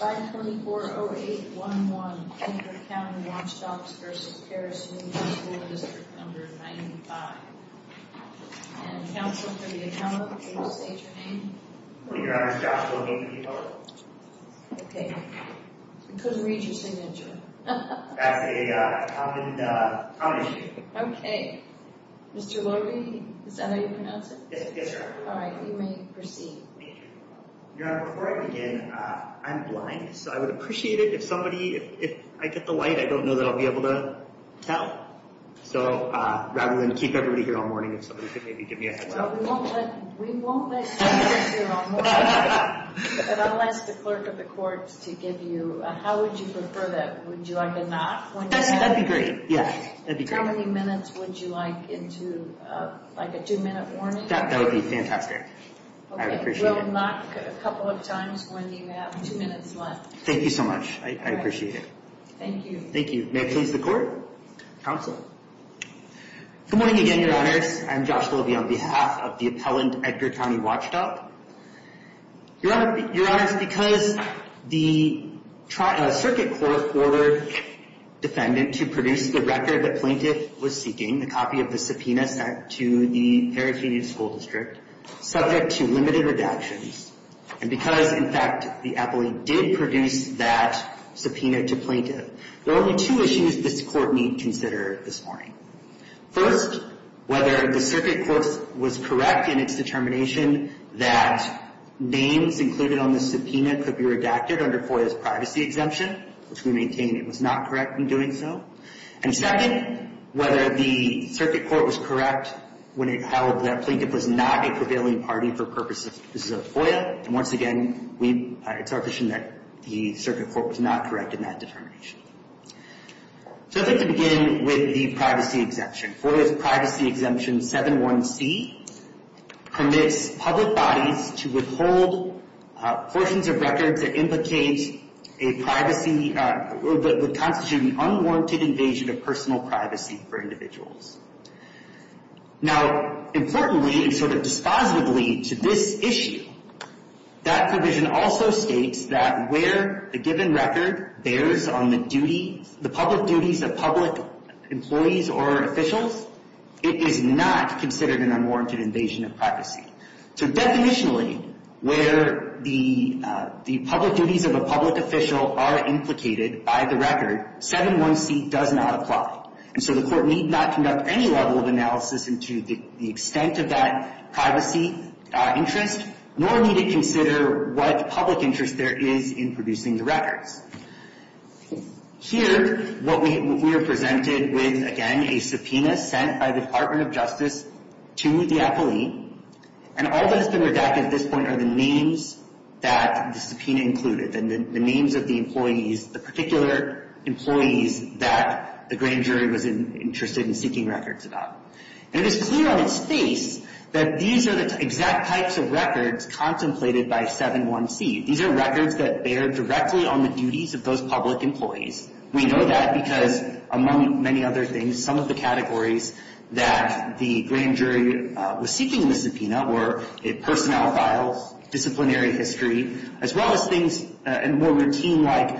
524-0811, Kingford County Watchdogs v. Paris Union School District No. 95 And counsel for the accountant, please state your name. Good morning, Your Honor. It's Josh Logie. Okay. I couldn't read your signature. That's a common issue. Okay. Mr. Logie, is that how you pronounce it? Yes, sir. All right. You may proceed. Your Honor, before I begin, I'm blind. So I would appreciate it if somebody, if I get the light, I don't know that I'll be able to tell. So rather than keep everybody here all morning, if somebody could maybe give me a heads up. Well, we won't let somebody sit here all morning. But I'll ask the clerk of the courts to give you, how would you prefer that? Would you like a knock? That'd be great. Yes. That'd be great. How many minutes would you like into like a two-minute warning? That would be fantastic. Okay. We'll knock a couple of times when you have two minutes left. Thank you so much. I appreciate it. Thank you. Thank you. May I please have the court? Counsel? Good morning again, Your Honors. I'm Josh Logie on behalf of the appellant, Edgar County Watchdog. Your Honors, because the circuit court ordered defendant to produce the record that plaintiff was seeking, the copy of the subpoena sent to the Perry Community School District, subject to limited redactions, and because, in fact, the appellant did produce that subpoena to plaintiff, there are only two issues this court may consider this morning. First, whether the circuit court was correct in its determination that names included on the subpoena could be redacted under FOIA's privacy exemption, which we maintain it was not correct in doing so. And second, whether the circuit court was correct when it held that plaintiff was not a prevailing party for purposes of FOIA. And once again, it's our position that the circuit court was not correct in that determination. So I'd like to begin with the privacy exemption. FOIA's privacy exemption 7.1c permits public bodies to withhold portions of records that implicate a privacy that would constitute an unwarranted invasion of personal privacy for individuals. Now, importantly, sort of dispositively to this issue, that provision also states that where a given record bears on the duties, the public duties of public employees or officials, it is not considered an unwarranted invasion of privacy. So definitionally, where the public duties of a public official are implicated by the record, 7.1c does not apply. And so the court need not conduct any level of analysis into the extent of that privacy interest, nor need it consider what public interest there is in producing the records. Here, we are presented with, again, a subpoena sent by the Department of Justice to the appellee. And all that has been redacted at this point are the names that the subpoena included, and the names of the employees, the particular employees that the grand jury was interested in seeking records about. And it's clear on its face that these are the exact types of records contemplated by 7.1c. These are records that bear directly on the duties of those public employees. We know that because, among many other things, some of the categories that the grand jury was seeking in the subpoena were personnel files, disciplinary history, as well as things more routine like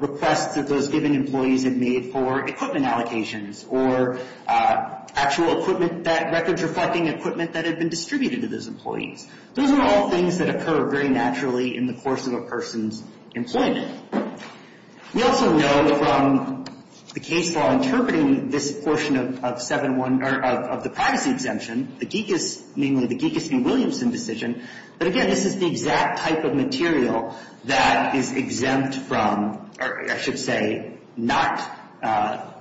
requests that those given employees had made for equipment allocations or actual equipment that records reflecting equipment that had been distributed to those employees. Those are all things that occur very naturally in the course of a person's employment. We also know from the case law interpreting this portion of 7.1, or of the privacy exemption, the Geekas, namely the Geekas v. Williamson decision, that, again, this is the exact type of material that is exempt from, or I should say not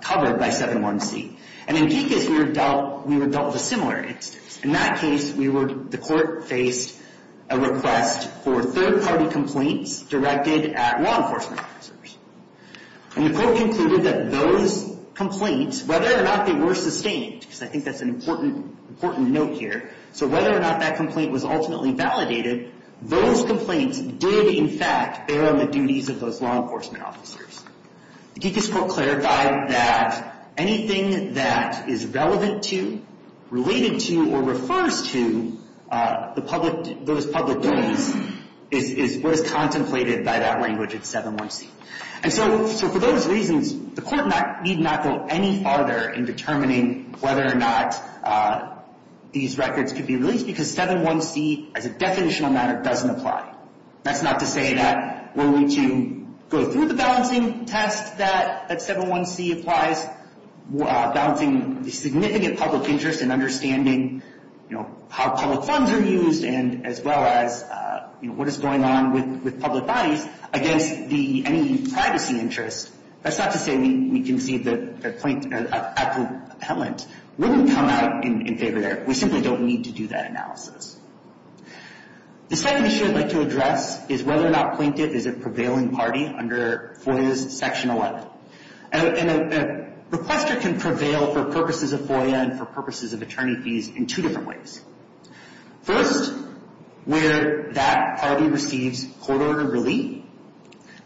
covered by 7.1c. And in Geekas, we were dealt with a similar instance. In that case, the court faced a request for third-party complaints directed at law enforcement officers. And the court concluded that those complaints, whether or not they were sustained, because I think that's an important note here, so whether or not that complaint was ultimately validated, those complaints did, in fact, bear on the duties of those law enforcement officers. The Geekas proclaimed that anything that is relevant to, related to, or refers to those public duties is what is contemplated by that language at 7.1c. And so for those reasons, the court need not go any farther in determining whether or not these records could be released because 7.1c, as a definitional matter, doesn't apply. That's not to say that we're going to go through the balancing test that 7.1c applies, balancing the significant public interest in understanding, you know, how public funds are used and as well as, you know, what is going on with public bodies against any privacy interest. That's not to say we concede that a compellent wouldn't come out in favor there. We simply don't need to do that analysis. The second issue I'd like to address is whether or not plaintiff is a prevailing party under FOIA's Section 11. And a requester can prevail for purposes of FOIA and for purposes of attorney fees in two different ways. First, where that party receives court-ordered relief.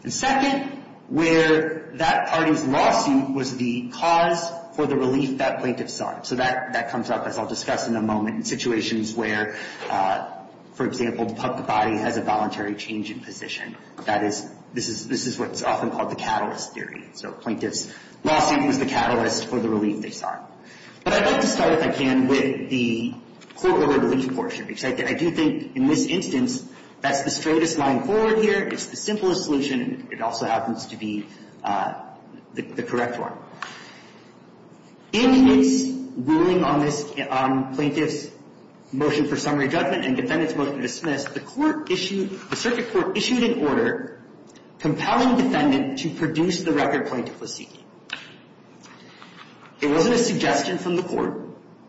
And second, where that party's lawsuit was the cause for the relief that plaintiff sought. So that comes up, as I'll discuss in a moment, in situations where, for example, the public body has a voluntary change in position. That is, this is what's often called the catalyst theory. So a plaintiff's lawsuit was the catalyst for the relief they sought. But I'd like to start, if I can, with the court-ordered relief portion, because I do think in this instance, that's the straightest line forward here. It's the simplest solution. It also happens to be the correct one. In its ruling on this plaintiff's motion for summary judgment and defendant's motion dismissed, the circuit court issued an order compelling defendant to produce the record plaintiff was seeking. It wasn't a suggestion from the court.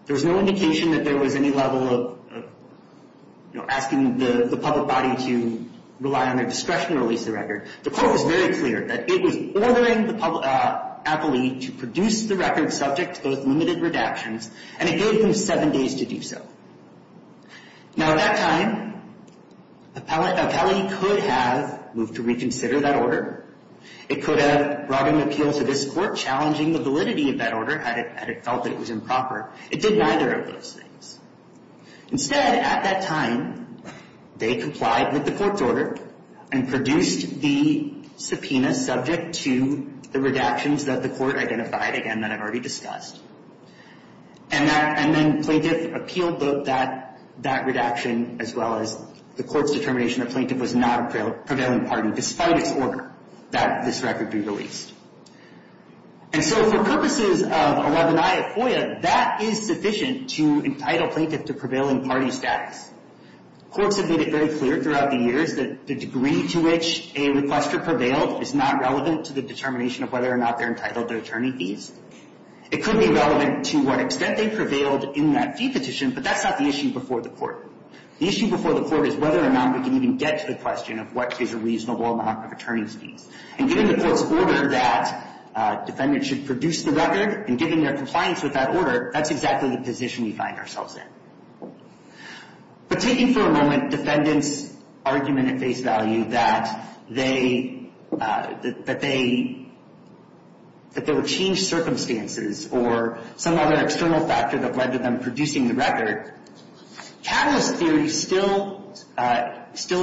There was no indication that there was any level of, you know, asking the public body to rely on their discretion to release the record. The court was very clear that it was ordering the appellee to produce the record subject to both limited redactions, and it gave them seven days to do so. Now, at that time, appellee could have moved to reconsider that order. It could have brought an appeal to this court challenging the validity of that order, had it felt that it was improper. It did neither of those things. Instead, at that time, they complied with the court's order and produced the subpoena subject to the redactions that the court identified, again, that I've already discussed. And then plaintiff appealed that redaction as well as the court's determination that plaintiff was not a prevailing party despite its order that this record be released. And so for purposes of 11i of FOIA, that is sufficient to entitle plaintiff to prevailing party status. Courts have made it very clear throughout the years that the degree to which a requestor prevailed is not relevant to the determination of whether or not they're entitled to attorney fees. It could be relevant to what extent they prevailed in that fee petition, but that's not the issue before the court. The issue before the court is whether or not we can even get to the question of what is a reasonable amount of attorney's fees. And given the court's order that defendants should produce the record and given their compliance with that order, that's exactly the position we find ourselves in. But taking for a moment defendants' argument at face value that they were changed circumstances or some other external factor that led to them producing the record, catalyst theory still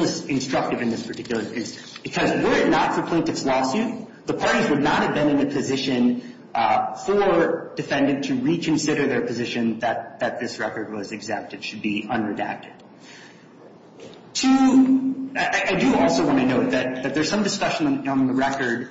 is instructive in this particular instance. Because were it not for plaintiff's lawsuit, the parties would not have been in a position for defendant to reconsider their position that this record was exempt. It should be unredacted. Two, I do also want to note that there's some discussion on the record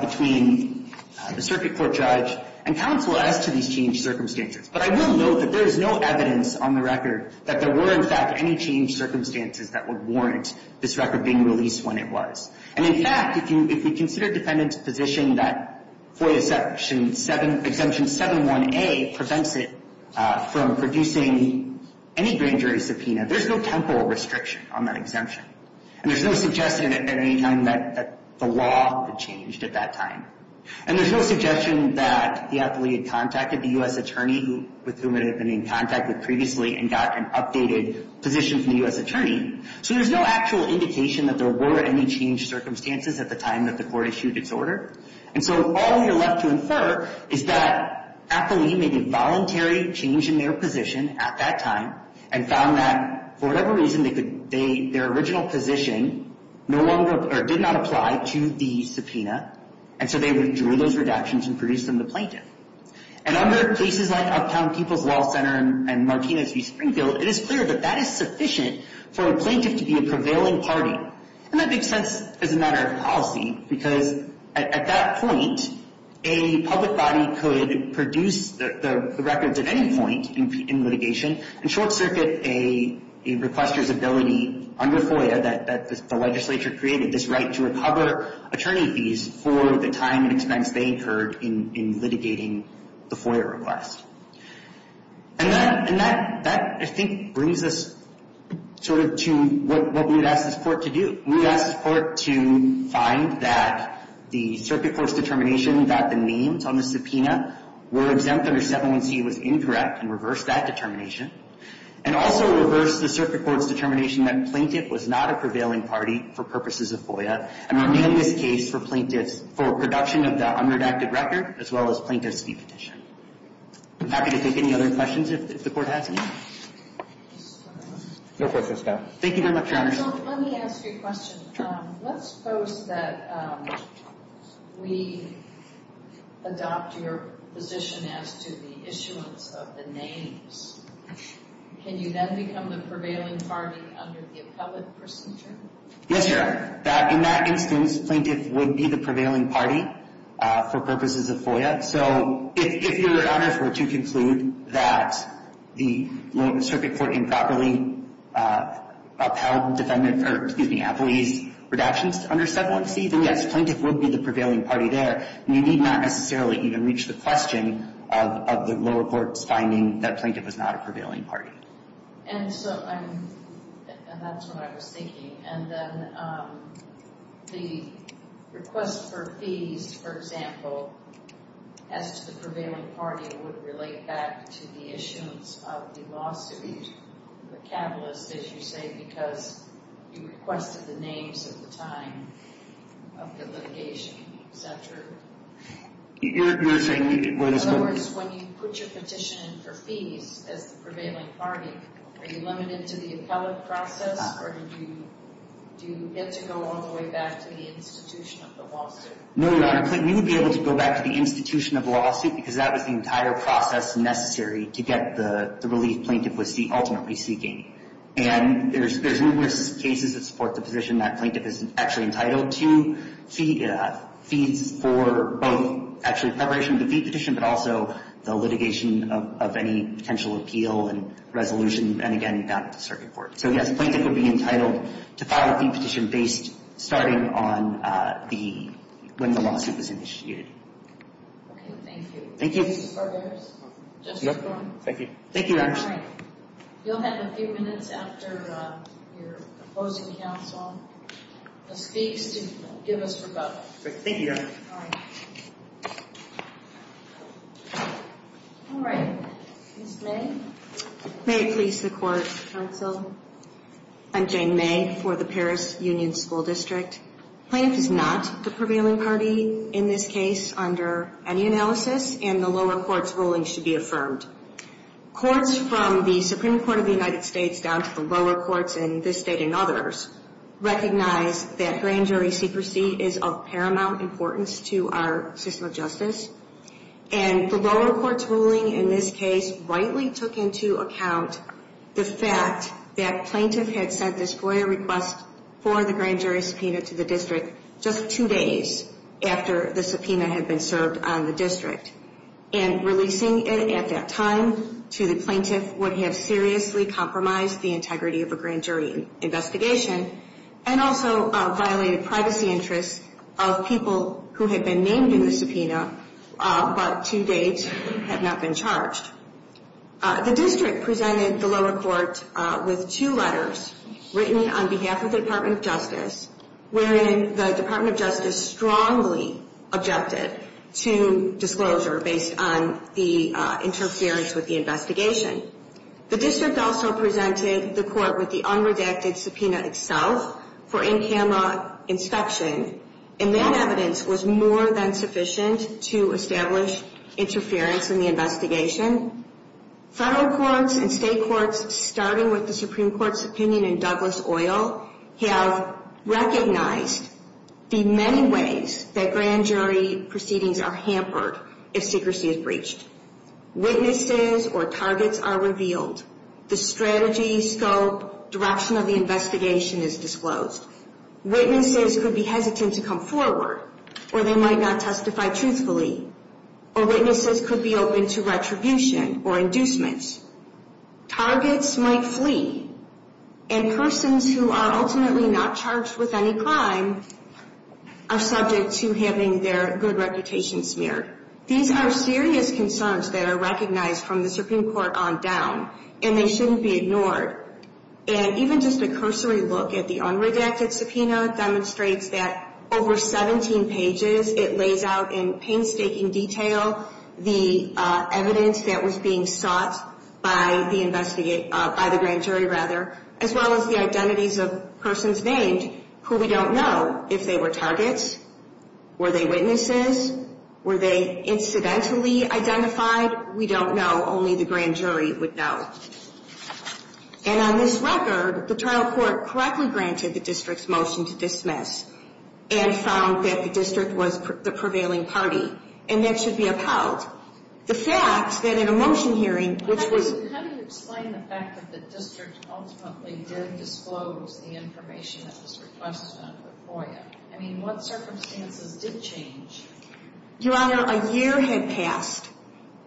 between the circuit court judge and counsel as to these changed circumstances. But I will note that there is no evidence on the record that there were, in fact, any changed circumstances that would warrant this record being released when it was. And, in fact, if you consider defendants' position that FOIA section 7, exemption 71A prevents it from producing any grand jury subpoena, there's no temporal restriction on that exemption. And there's no suggestion at any time that the law had changed at that time. And there's no suggestion that the appellee had contacted the U.S. attorney with whom it had been in contact with previously and got an updated position from the U.S. attorney. So there's no actual indication that there were any changed circumstances at the time that the court issued its order. And so all we are left to infer is that appellee made a voluntary change in their position at that time and found that, for whatever reason, their original position did not apply to the subpoena. And so they withdrew those redactions and produced them to plaintiff. And under cases like Uptown People's Law Center and Martinez v. Springfield, it is clear that that is sufficient for a plaintiff to be a prevailing party. And that makes sense as a matter of policy because, at that point, a public body could produce the records at any point in litigation and short-circuit a requester's ability under FOIA that the legislature created this right to recover attorney fees for the time and expense they incurred in litigating the FOIA request. And that, I think, brings us sort of to what we would ask this court to do. We would ask this court to find that the circuit court's determination that the names on the subpoena were exempt under 717 was incorrect and reverse that determination and also reverse the circuit court's determination that plaintiff was not a prevailing party for purposes of FOIA and remain this case for plaintiffs for production of the unredacted record as well as plaintiff's fee petition. I'm happy to take any other questions if the court has any. No questions now. Thank you very much, Your Honor. So let me ask you a question. Let's suppose that we adopt your position as to the issuance of the names. Can you then become the prevailing party under the appellate procedure? Yes, Your Honor. In that instance, plaintiff would be the prevailing party for purposes of FOIA. So if Your Honor were to conclude that the circuit court improperly upheld defendant or, excuse me, appellee's redactions under 717, then yes, plaintiff would be the prevailing party there. You need not necessarily even reach the question of the lower court's finding that plaintiff is not a prevailing party. And so I'm – and that's what I was thinking. And then the request for fees, for example, as to the prevailing party would relate back to the issuance of the lawsuit, the catalyst, as you say, because you requested the names at the time of the litigation, et cetera. You're saying – In other words, when you put your petition in for fees as the prevailing party, are you limited to the appellate process or do you get to go all the way back to the institution of the lawsuit? No, Your Honor. You would be able to go back to the institution of the lawsuit because that was the entire process necessary to get the relief plaintiff was ultimately seeking. And there's numerous cases that support the position that plaintiff is actually entitled to fees for both actually preparation of the fee petition, but also the litigation of any potential appeal and resolution. And again, not at the circuit court. So, yes, the plaintiff would be entitled to file a fee petition based starting on the – when the lawsuit was initiated. Okay. Thank you. Thank you. Mr. Barber? Thank you. Thank you, Your Honor. All right. You'll have a few minutes after your opposing counsel speaks to give us rebuttal. Thank you, Your Honor. All right. All right. Ms. May? May it please the Court, counsel. I'm Jane May for the Paris Union School District. Plaintiff is not the prevailing party in this case under any analysis, and the lower court's ruling should be affirmed. Courts from the Supreme Court of the United States down to the lower courts in this State and others recognize that grand jury secrecy is of paramount importance to our system of justice. And the lower court's ruling in this case rightly took into account the fact that plaintiff had sent this FOIA request for the grand jury subpoena to the district just two days after the subpoena had been served on the district. And releasing it at that time to the plaintiff would have seriously compromised the integrity of a grand jury investigation and also violated privacy interests of people who had been named in the subpoena but to date have not been charged. The district presented the lower court with two letters written on behalf of the Department of Justice, wherein the Department of Justice strongly objected to disclosure based on the interference with the investigation. The district also presented the court with the unredacted subpoena itself for in-camera inspection, and that evidence was more than sufficient to establish interference in the investigation. Federal courts and State courts, starting with the Supreme Court's opinion in Douglas Oil, have recognized the many ways that grand jury proceedings are hampered if secrecy is breached. Witnesses or targets are revealed. The strategy, scope, direction of the investigation is disclosed. Witnesses could be hesitant to come forward, or they might not testify truthfully. Or witnesses could be open to retribution or inducements. Targets might flee, and persons who are ultimately not charged with any crime are subject to having their good reputation smeared. These are serious concerns that are recognized from the Supreme Court on down, and they shouldn't be ignored. And even just a cursory look at the unredacted subpoena demonstrates that over 17 pages, it lays out in painstaking detail the evidence that was being sought by the grand jury, as well as the identities of persons named who we don't know if they were targets, were they witnesses, were they incidentally identified? We don't know. Only the grand jury would know. And on this record, the trial court correctly granted the district's motion to dismiss and found that the district was the prevailing party, and that should be upheld. The fact that in a motion hearing, which was… How do you explain the fact that the district ultimately did disclose the information that was requested under the FOIA? I mean, what circumstances did change? Your Honor, a year had passed,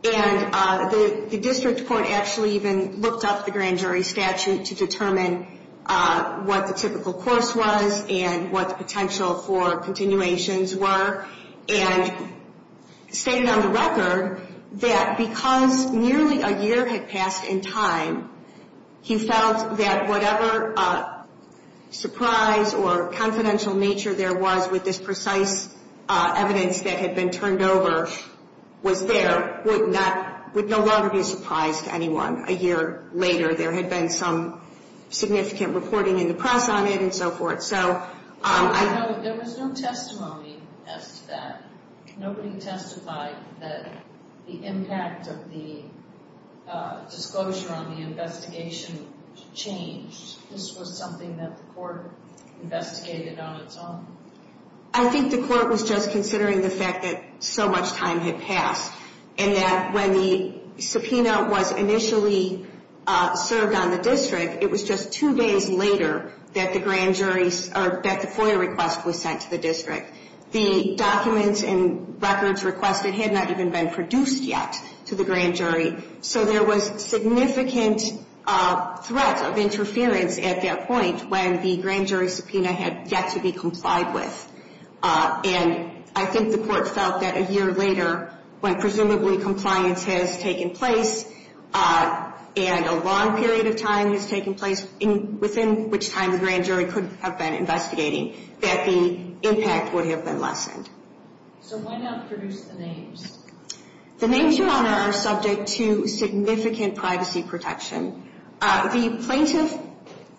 and the district court actually even looked up the grand jury statute to determine what the typical course was and what the potential for continuations were, and stated on the record that because nearly a year had passed in time, he felt that whatever surprise or confidential nature there was with this precise evidence that had been turned over was there would no longer be a surprise to anyone. A year later, there had been some significant reporting in the press on it and so forth. There was no testimony as to that. Nobody testified that the impact of the disclosure on the investigation changed. This was something that the court investigated on its own. I think the court was just considering the fact that so much time had passed, and that when the subpoena was initially served on the district, it was just two days later that the FOIA request was sent to the district. The documents and records requested had not even been produced yet to the grand jury, so there was significant threat of interference at that point when the grand jury subpoena had yet to be complied with. And I think the court felt that a year later, when presumably compliance has taken place and a long period of time has taken place within which time the grand jury could have been investigating, that the impact would have been lessened. So why not produce the names? The names, Your Honor, are subject to significant privacy protection. The plaintiff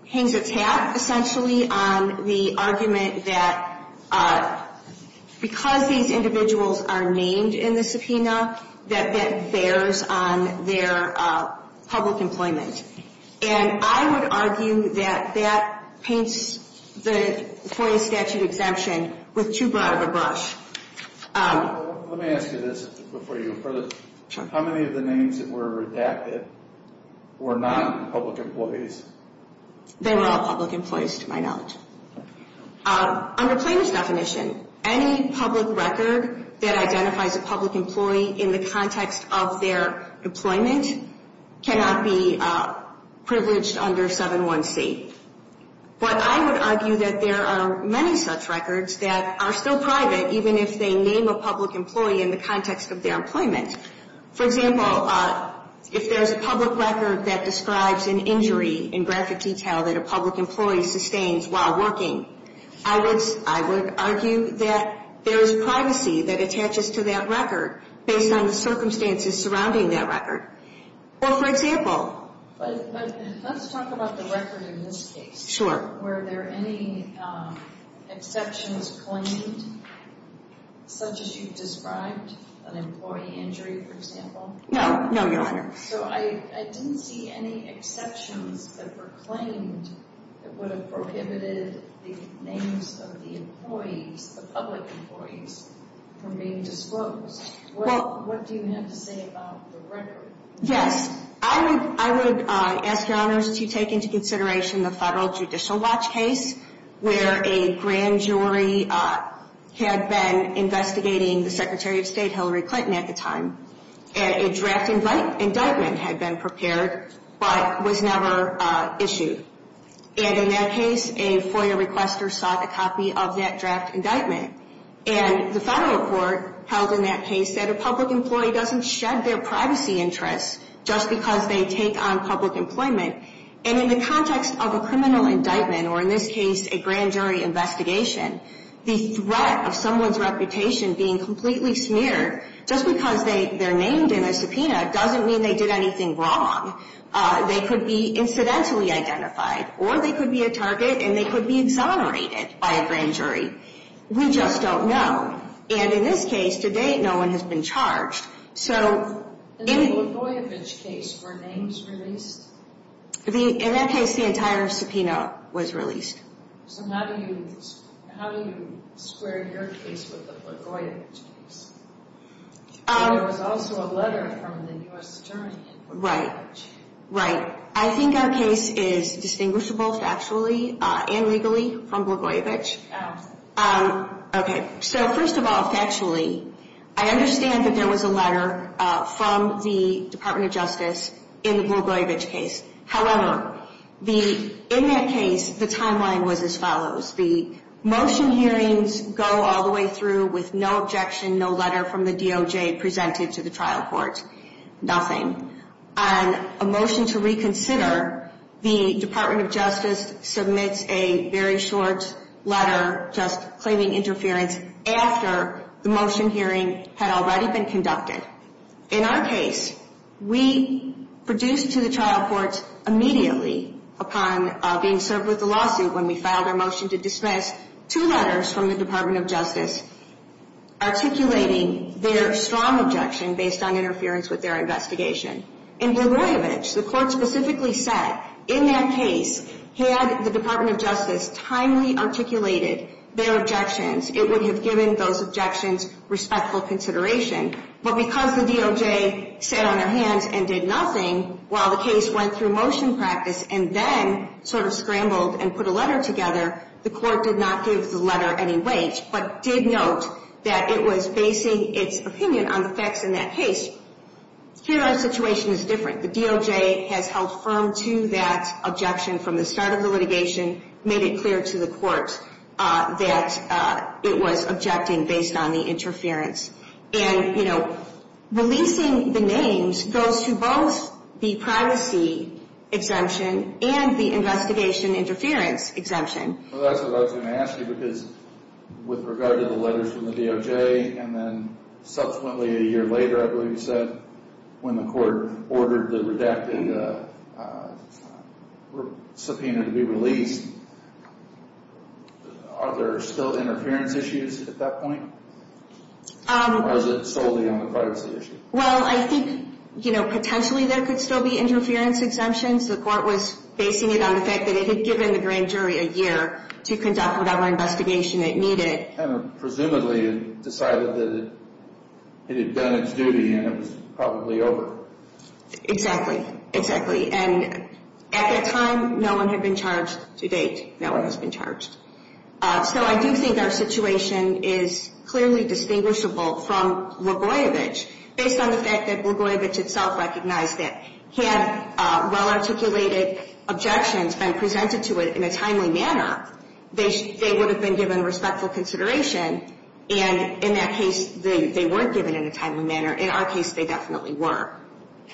hangs its hat essentially on the argument that because these individuals are named in the subpoena, that that bears on their public employment. And I would argue that that paints the FOIA statute exemption with too broad of a brush. Let me ask you this before you go further. How many of the names that were redacted were non-public employees? They were all public employees to my knowledge. Under plaintiff's definition, any public record that identifies a public employee in the context of their employment cannot be privileged under 7.1c. But I would argue that there are many such records that are still private, even if they name a public employee in the context of their employment. For example, if there's a public record that describes an injury in graphic detail that a public employee sustains while working, I would argue that there is privacy that attaches to that record based on the circumstances surrounding that record. Well, for example... But let's talk about the record in this case. Sure. Were there any exceptions claimed, such as you've described, an employee injury, for example? No. No, Your Honor. So I didn't see any exceptions that were claimed that would have prohibited the names of the employees, the public employees, from being disclosed. What do you have to say about the record? Yes. I would ask, Your Honor, to take into consideration the federal Judicial Watch case where a grand jury had been investigating the Secretary of State Hillary Clinton at the time. And a draft indictment had been prepared but was never issued. And in that case, a FOIA requester sought a copy of that draft indictment. And the federal court held in that case that a public employee doesn't shed their privacy interests just because they take on public employment. And in the context of a criminal indictment, or in this case, a grand jury investigation, the threat of someone's reputation being completely smeared just because they're named in a subpoena doesn't mean they did anything wrong. They could be incidentally identified, or they could be a target, and they could be exonerated by a grand jury. We just don't know. And in this case, to date, no one has been charged. So... And in the Likoyevich case, were names released? In that case, the entire subpoena was released. So how do you square your case with the Likoyevich case? There was also a letter from the U.S. Attorney in Likoyevich. Right. Right. I think our case is distinguishable factually and legally from Likoyevich. How? Okay. So first of all, factually, I understand that there was a letter from the Department of Justice in the Likoyevich case. However, in that case, the timeline was as follows. The motion hearings go all the way through with no objection, no letter from the DOJ presented to the trial court. Nothing. On a motion to reconsider, the Department of Justice submits a very short letter just claiming interference after the motion hearing had already been conducted. In our case, we produced to the trial court immediately upon being served with the lawsuit when we filed our motion to dismiss two letters from the Department of Justice articulating their strong objection based on interference with their investigation. In Likoyevich, the court specifically said in that case, had the Department of Justice timely articulated their objections, it would have given those objections respectful consideration. But because the DOJ sat on their hands and did nothing while the case went through motion practice and then sort of scrambled and put a letter together, the court did not give the letter any weight but did note that it was basing its opinion on the facts in that case. Here, our situation is different. The DOJ has held firm to that objection from the start of the litigation, made it clear to the court that it was objecting based on the interference. And, you know, releasing the names goes to both the privacy exemption and the investigation interference exemption. Well, that's what I was going to ask you because with regard to the letters from the DOJ and then subsequently a year later, I believe you said, when the court ordered the redacted subpoena to be released, are there still interference issues at that point? Or is it solely on the privacy issue? Well, I think, you know, potentially there could still be interference exemptions. The court was basing it on the fact that it had given the grand jury a year to conduct whatever investigation it needed. Presumably it decided that it had done its duty and it was probably over. Exactly. Exactly. And at that time, no one had been charged to date. No one has been charged. So I do think our situation is clearly distinguishable from Rogojevich, based on the fact that Rogojevich itself recognized that had well-articulated objections been presented to it in a timely manner, they would have been given respectful consideration. And in that case, they weren't given in a timely manner. In our case, they definitely were.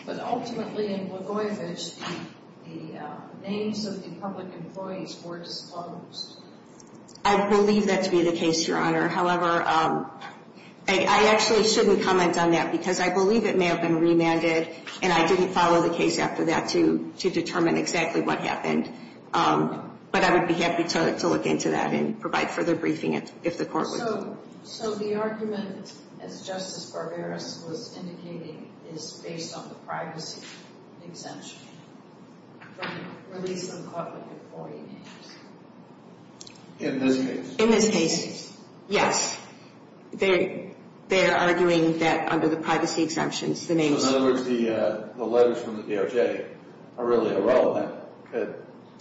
But ultimately in Rogojevich, the names of the public employees were disclosed. I believe that to be the case, Your Honor. However, I actually shouldn't comment on that because I believe it may have been remanded and I didn't follow the case after that to determine exactly what happened. But I would be happy to look into that and provide further briefing if the court would. So the argument, as Justice Barbera was indicating, is based on the privacy exemption from the release of public employee names. In this case. In this case, yes. They are arguing that under the privacy exemptions, the names. In other words, the letters from the DOJ are really irrelevant to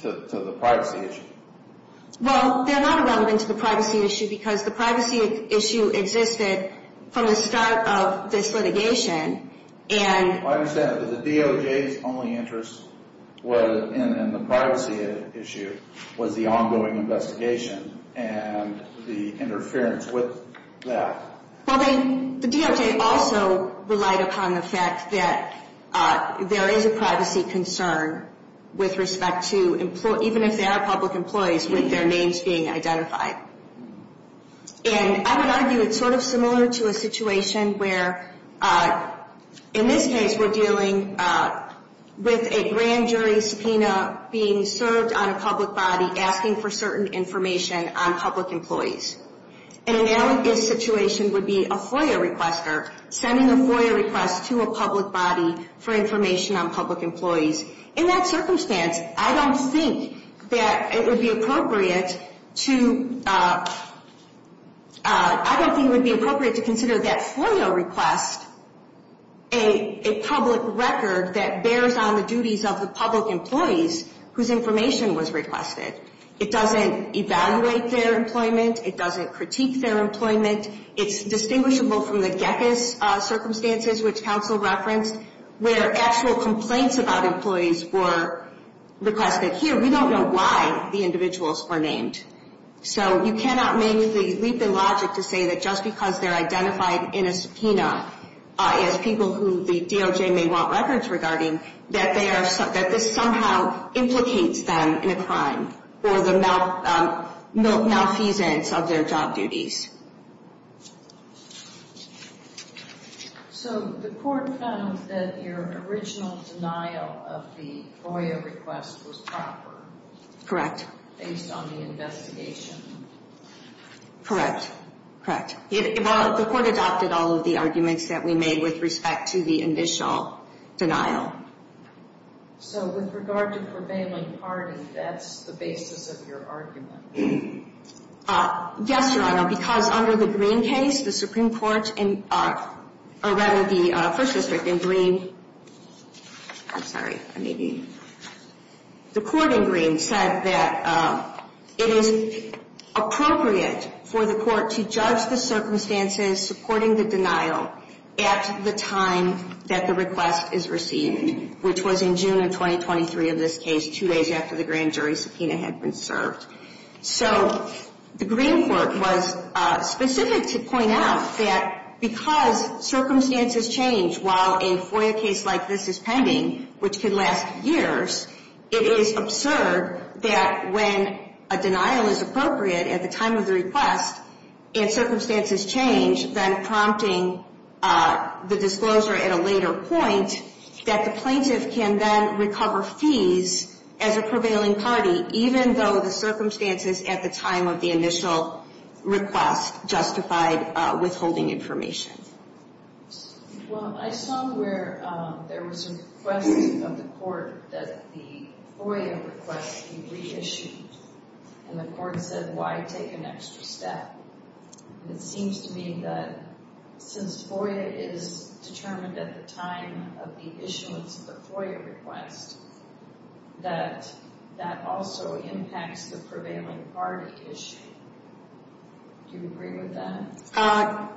the privacy issue. Well, they're not irrelevant to the privacy issue because the privacy issue existed from the start of this litigation and. I understand that the DOJ's only interest in the privacy issue was the ongoing investigation and the interference with that. Well, the DOJ also relied upon the fact that there is a privacy concern with respect to employees, even if they are public employees, with their names being identified. And I would argue it's sort of similar to a situation where, in this case, we're dealing with a grand jury subpoena being served on a public body asking for certain information on public employees. An analogous situation would be a FOIA requester sending a FOIA request to a public body for information on public employees. In that circumstance, I don't think that it would be appropriate to. I don't think it would be appropriate to consider that FOIA request a public record that bears on the duties of the public employees whose information was requested. It doesn't evaluate their employment. It doesn't critique their employment. It's distinguishable from the GECCS circumstances, which counsel referenced, where actual complaints about employees were requested here. We don't know why the individuals were named. So you cannot leave the logic to say that just because they're identified in a subpoena, as people who the DOJ may want records regarding, that this somehow implicates them in a crime for the malfeasance of their job duties. So the court found that your original denial of the FOIA request was proper. Correct. Based on the investigation. Correct. Correct. Well, the court adopted all of the arguments that we made with respect to the initial denial. So with regard to prevailing party, that's the basis of your argument? Yes, Your Honor, because under the Green case, the Supreme Court, or rather the First District in Green, I'm sorry. The court in Green said that it is appropriate for the court to judge the circumstances supporting the denial at the time that the request is received, which was in June of 2023 of this case, two days after the grand jury subpoena had been served. So the Green court was specific to point out that because circumstances change while a FOIA case like this is pending, which could last years, it is absurd that when a denial is appropriate at the time of the request and circumstances change, then prompting the disclosure at a later point, that the plaintiff can then recover fees as a prevailing party, even though the circumstances at the time of the initial request justified withholding information. Well, I saw where there was a request of the court that the FOIA request be reissued. And the court said, why take an extra step? It seems to me that since FOIA is determined at the time of the issuance of the FOIA request, that that also impacts the prevailing party issue. Do you agree with that?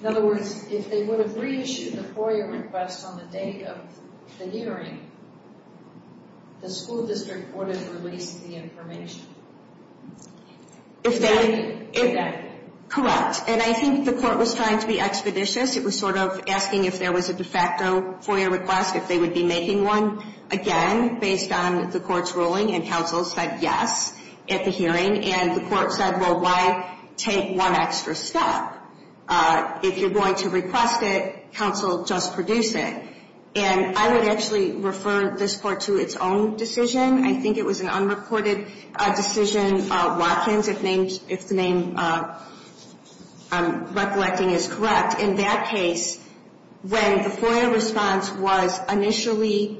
In other words, if they would have reissued the FOIA request on the day of the hearing, the school district would have released the information. Correct. And I think the court was trying to be expeditious. It was sort of asking if there was a de facto FOIA request, if they would be making one again based on the court's ruling. And counsel said yes at the hearing. And the court said, well, why take one extra step? If you're going to request it, counsel, just produce it. And I would actually refer this court to its own decision. I think it was an unreported decision, Watkins, if the name I'm recollecting is correct. In that case, when the FOIA response was initially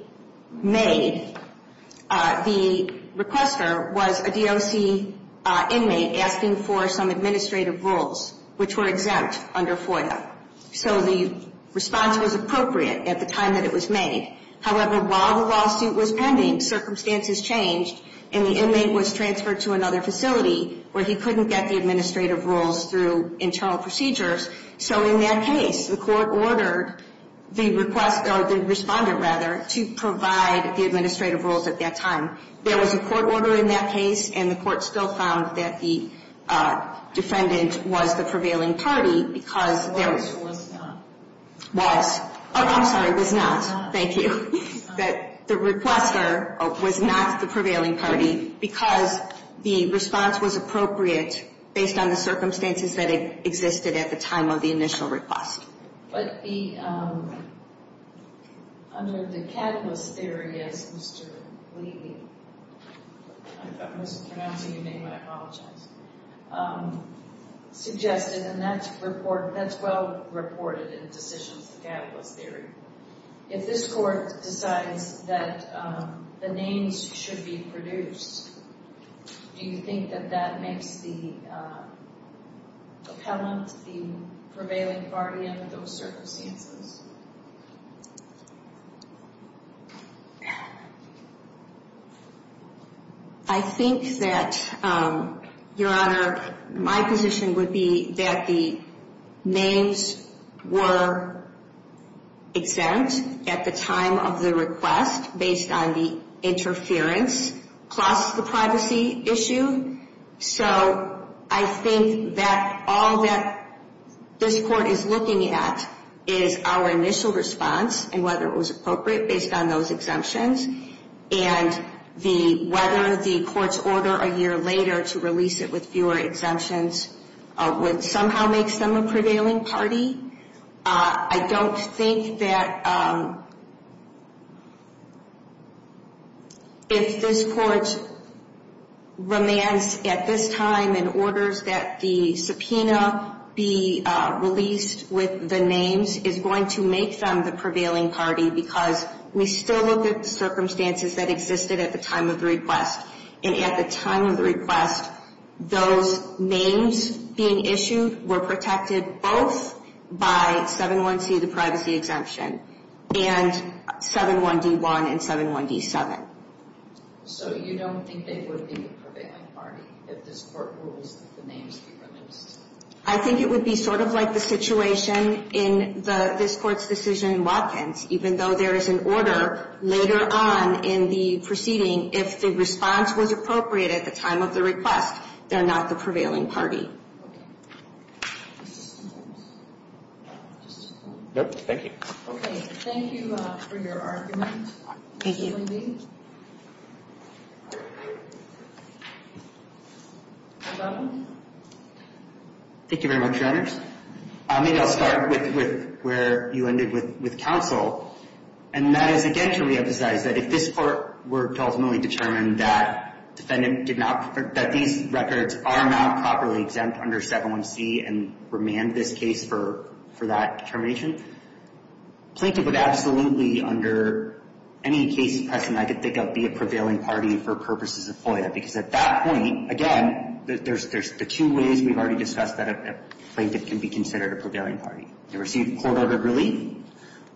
made, the requester was a DOC inmate asking for some administrative rules, which were exempt under FOIA. So the response was appropriate at the time that it was made. However, while the lawsuit was pending, circumstances changed, and the inmate was transferred to another facility where he couldn't get the administrative rules through internal procedures. So in that case, the court ordered the respondent to provide the administrative rules at that time. There was a court order in that case, and the court still found that the defendant was the prevailing party because there was not. Thank you. That the requester was not the prevailing party because the response was appropriate based on the circumstances that existed at the time of the initial request. But under the Catalyst Theory, as Mr. Levy suggested, and that's well reported in Decisions of the Catalyst Theory, if this court decides that the names should be produced, do you think that that makes the appellant the prevailing party under those circumstances? I think that, Your Honor, my position would be that the names were exempt at the time of the request based on the interference plus the privacy issue. So I think that all that this court is looking at is our initial response and whether it was appropriate based on those exemptions. And whether the court's order a year later to release it with fewer exemptions would somehow make them a prevailing party. I don't think that if this court demands at this time and orders that the subpoena be released with the names, it's going to make them the prevailing party because we still look at the circumstances that existed at the time of the request. And at the time of the request, those names being issued were protected both by 7.1c, the privacy exemption, and 7.1d.1 and 7.1d.7. So you don't think they would be the prevailing party if this court rules that the names be released? I think it would be sort of like the situation in this court's decision in Watkins. Even though there is an order later on in the proceeding, if the response was appropriate at the time of the request, they're not the prevailing party. Thank you. Okay, thank you for your argument. Thank you. Thank you very much, Your Honors. Maybe I'll start with where you ended with counsel. And that is, again, to reemphasize that if this court were to ultimately determine that defendant did not, that these records are not properly exempt under 7.1c and remand this case for that determination, Plaintiff would absolutely, under any case precedent I could think of, be a prevailing party for purposes of FOIA. Because at that point, again, there's the two ways we've already discussed that a plaintiff can be considered a prevailing party. They receive court-ordered relief,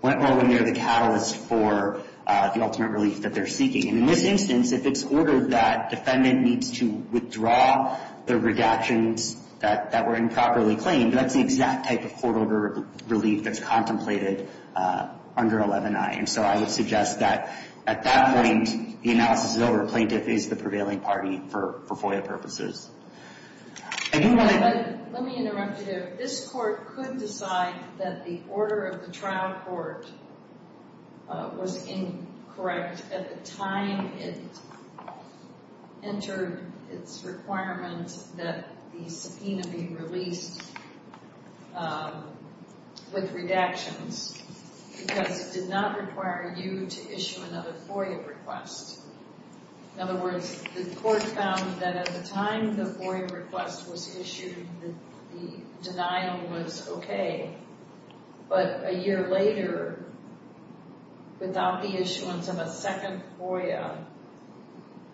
or when they're the catalyst for the ultimate relief that they're seeking. And in this instance, if it's ordered that defendant needs to withdraw the redactions that were improperly claimed, that's the exact type of court-ordered relief that's contemplated under 11i. And so I would suggest that at that point, the analysis is over. Plaintiff is the prevailing party for FOIA purposes. Let me interrupt you there. This court could decide that the order of the trial court was incorrect at the time it entered its requirement that the subpoena be released with redactions because it did not require you to issue another FOIA request. In other words, the court found that at the time the FOIA request was issued, the denial was okay. But a year later, without the issuance of a second FOIA,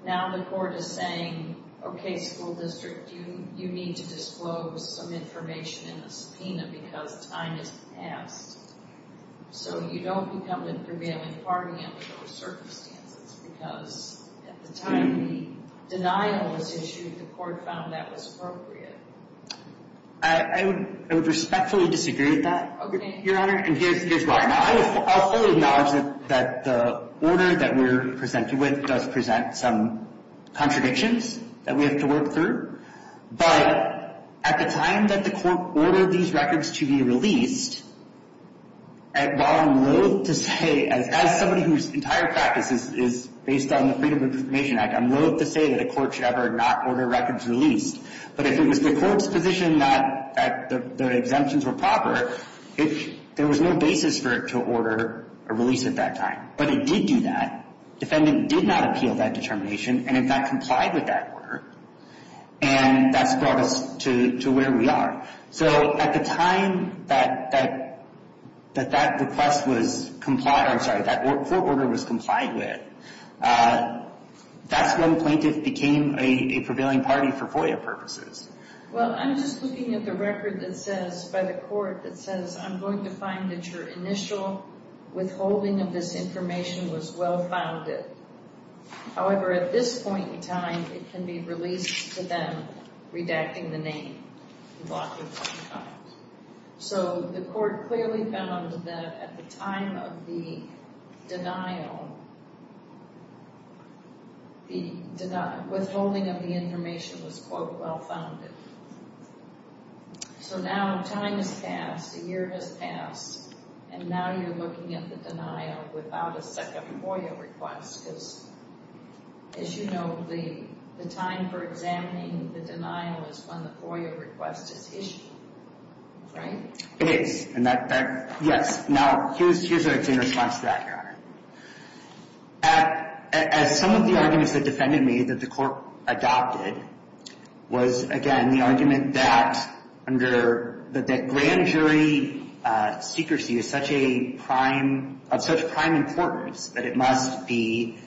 now the court is saying, okay, school district, you need to disclose some information in the subpoena because time has passed. So you don't become the prevailing party under those circumstances because at the time the denial was issued, the court found that was appropriate. I would respectfully disagree with that, Your Honor. And here's why. Now, I fully acknowledge that the order that we're presented with does present some contradictions that we have to work through. But at the time that the court ordered these records to be released, while I'm loathe to say, as somebody whose entire practice is based on the Freedom of Information Act, I'm loathe to say that a court should ever not order records released. But if it was the court's position that the exemptions were proper, there was no basis for it to order a release at that time. But it did do that. Defendant did not appeal that determination and, in fact, complied with that order. And that's brought us to where we are. So at the time that that request was complied, I'm sorry, that court order was complied with, that's when plaintiff became a prevailing party for FOIA purposes. Well, I'm just looking at the record that says, by the court that says, I'm going to find that your initial withholding of this information was well-founded. However, at this point in time, it can be released to them, redacting the name. So the court clearly found that at the time of the denial, the withholding of the information was, quote, well-founded. So now time has passed, a year has passed, and now you're looking at the denial without a second FOIA request. Because, as you know, the time for examining the denial is when the FOIA request is issued, right? It is. And that, yes. Now, here's our response to that, Your Honor. As some of the arguments that defended me that the court adopted was, again, the argument that under, that grand jury secrecy is such a prime, of such prime importance, that it must be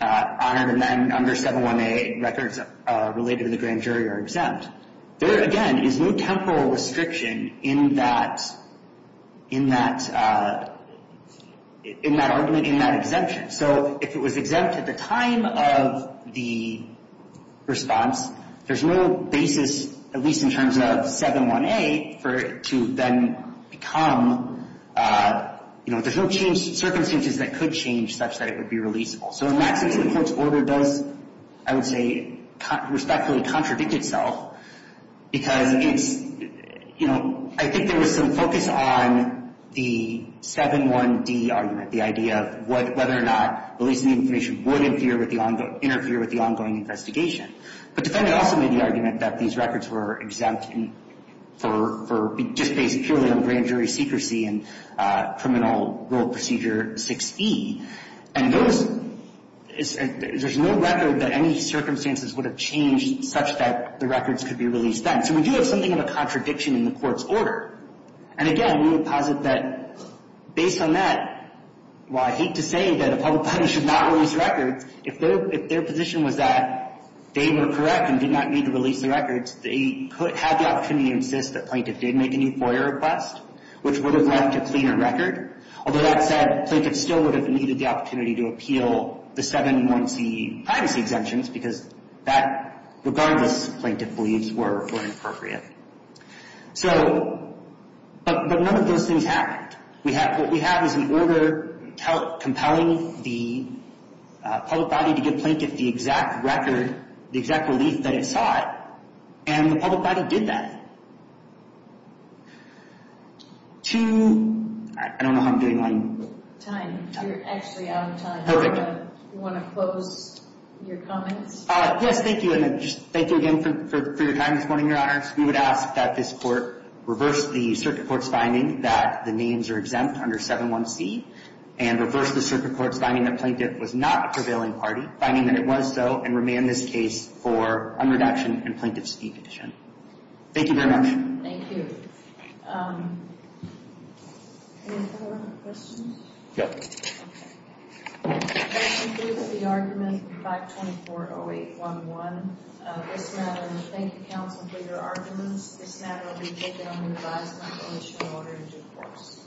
honored, and then under 718, records related to the grand jury are exempt. There, again, is no temporal restriction in that, in that, in that argument, in that exemption. So if it was exempt at the time of the response, there's no basis, at least in terms of 718, for it to then become, you know, there's no change, circumstances that could change such that it would be releasable. So in that sense, the court's order does, I would say, respectfully contradict itself, because it's, you know, I think there was some focus on the 7-1-D argument, the idea of whether or not releasing the information would interfere with the ongoing investigation. But defendant also made the argument that these records were exempt for, just based purely on grand jury secrecy and criminal rule procedure 6E. And those, there's no record that any circumstances would have changed such that the records could be released then. So we do have something of a contradiction in the court's order. And again, we would posit that, based on that, while I hate to say that a public body should not release records, if their, if their position was that they were correct and did not need to release the records, they could, had the opportunity to insist that plaintiff did make a new FOIA request, which would have left a cleaner record. Although that said, plaintiff still would have needed the opportunity to appeal the 7-1-C privacy exemptions, because that, regardless, plaintiff believes were, were inappropriate. So, but, but none of those things happened. We have, what we have is an order compelling the public body to give plaintiff the exact record, the exact relief that it sought, and the public body did that. Two, I don't know how I'm doing on time. You're actually out of time. Perfect. Do you want to close your comments? Yes, thank you. And just thank you again for your time this morning, Your Honor. We would ask that this court reverse the circuit court's finding that the names are exempt under 7-1-C, and reverse the circuit court's finding that plaintiff was not a prevailing party, finding that it was so, and remand this case for un-reduction and plaintiff's defection. Thank you very much. Thank you. Any other questions? No. That concludes the argument, 524-0811. This matter, and thank you, counsel, for your arguments. This matter will be taken under revised conclusion in order to due course.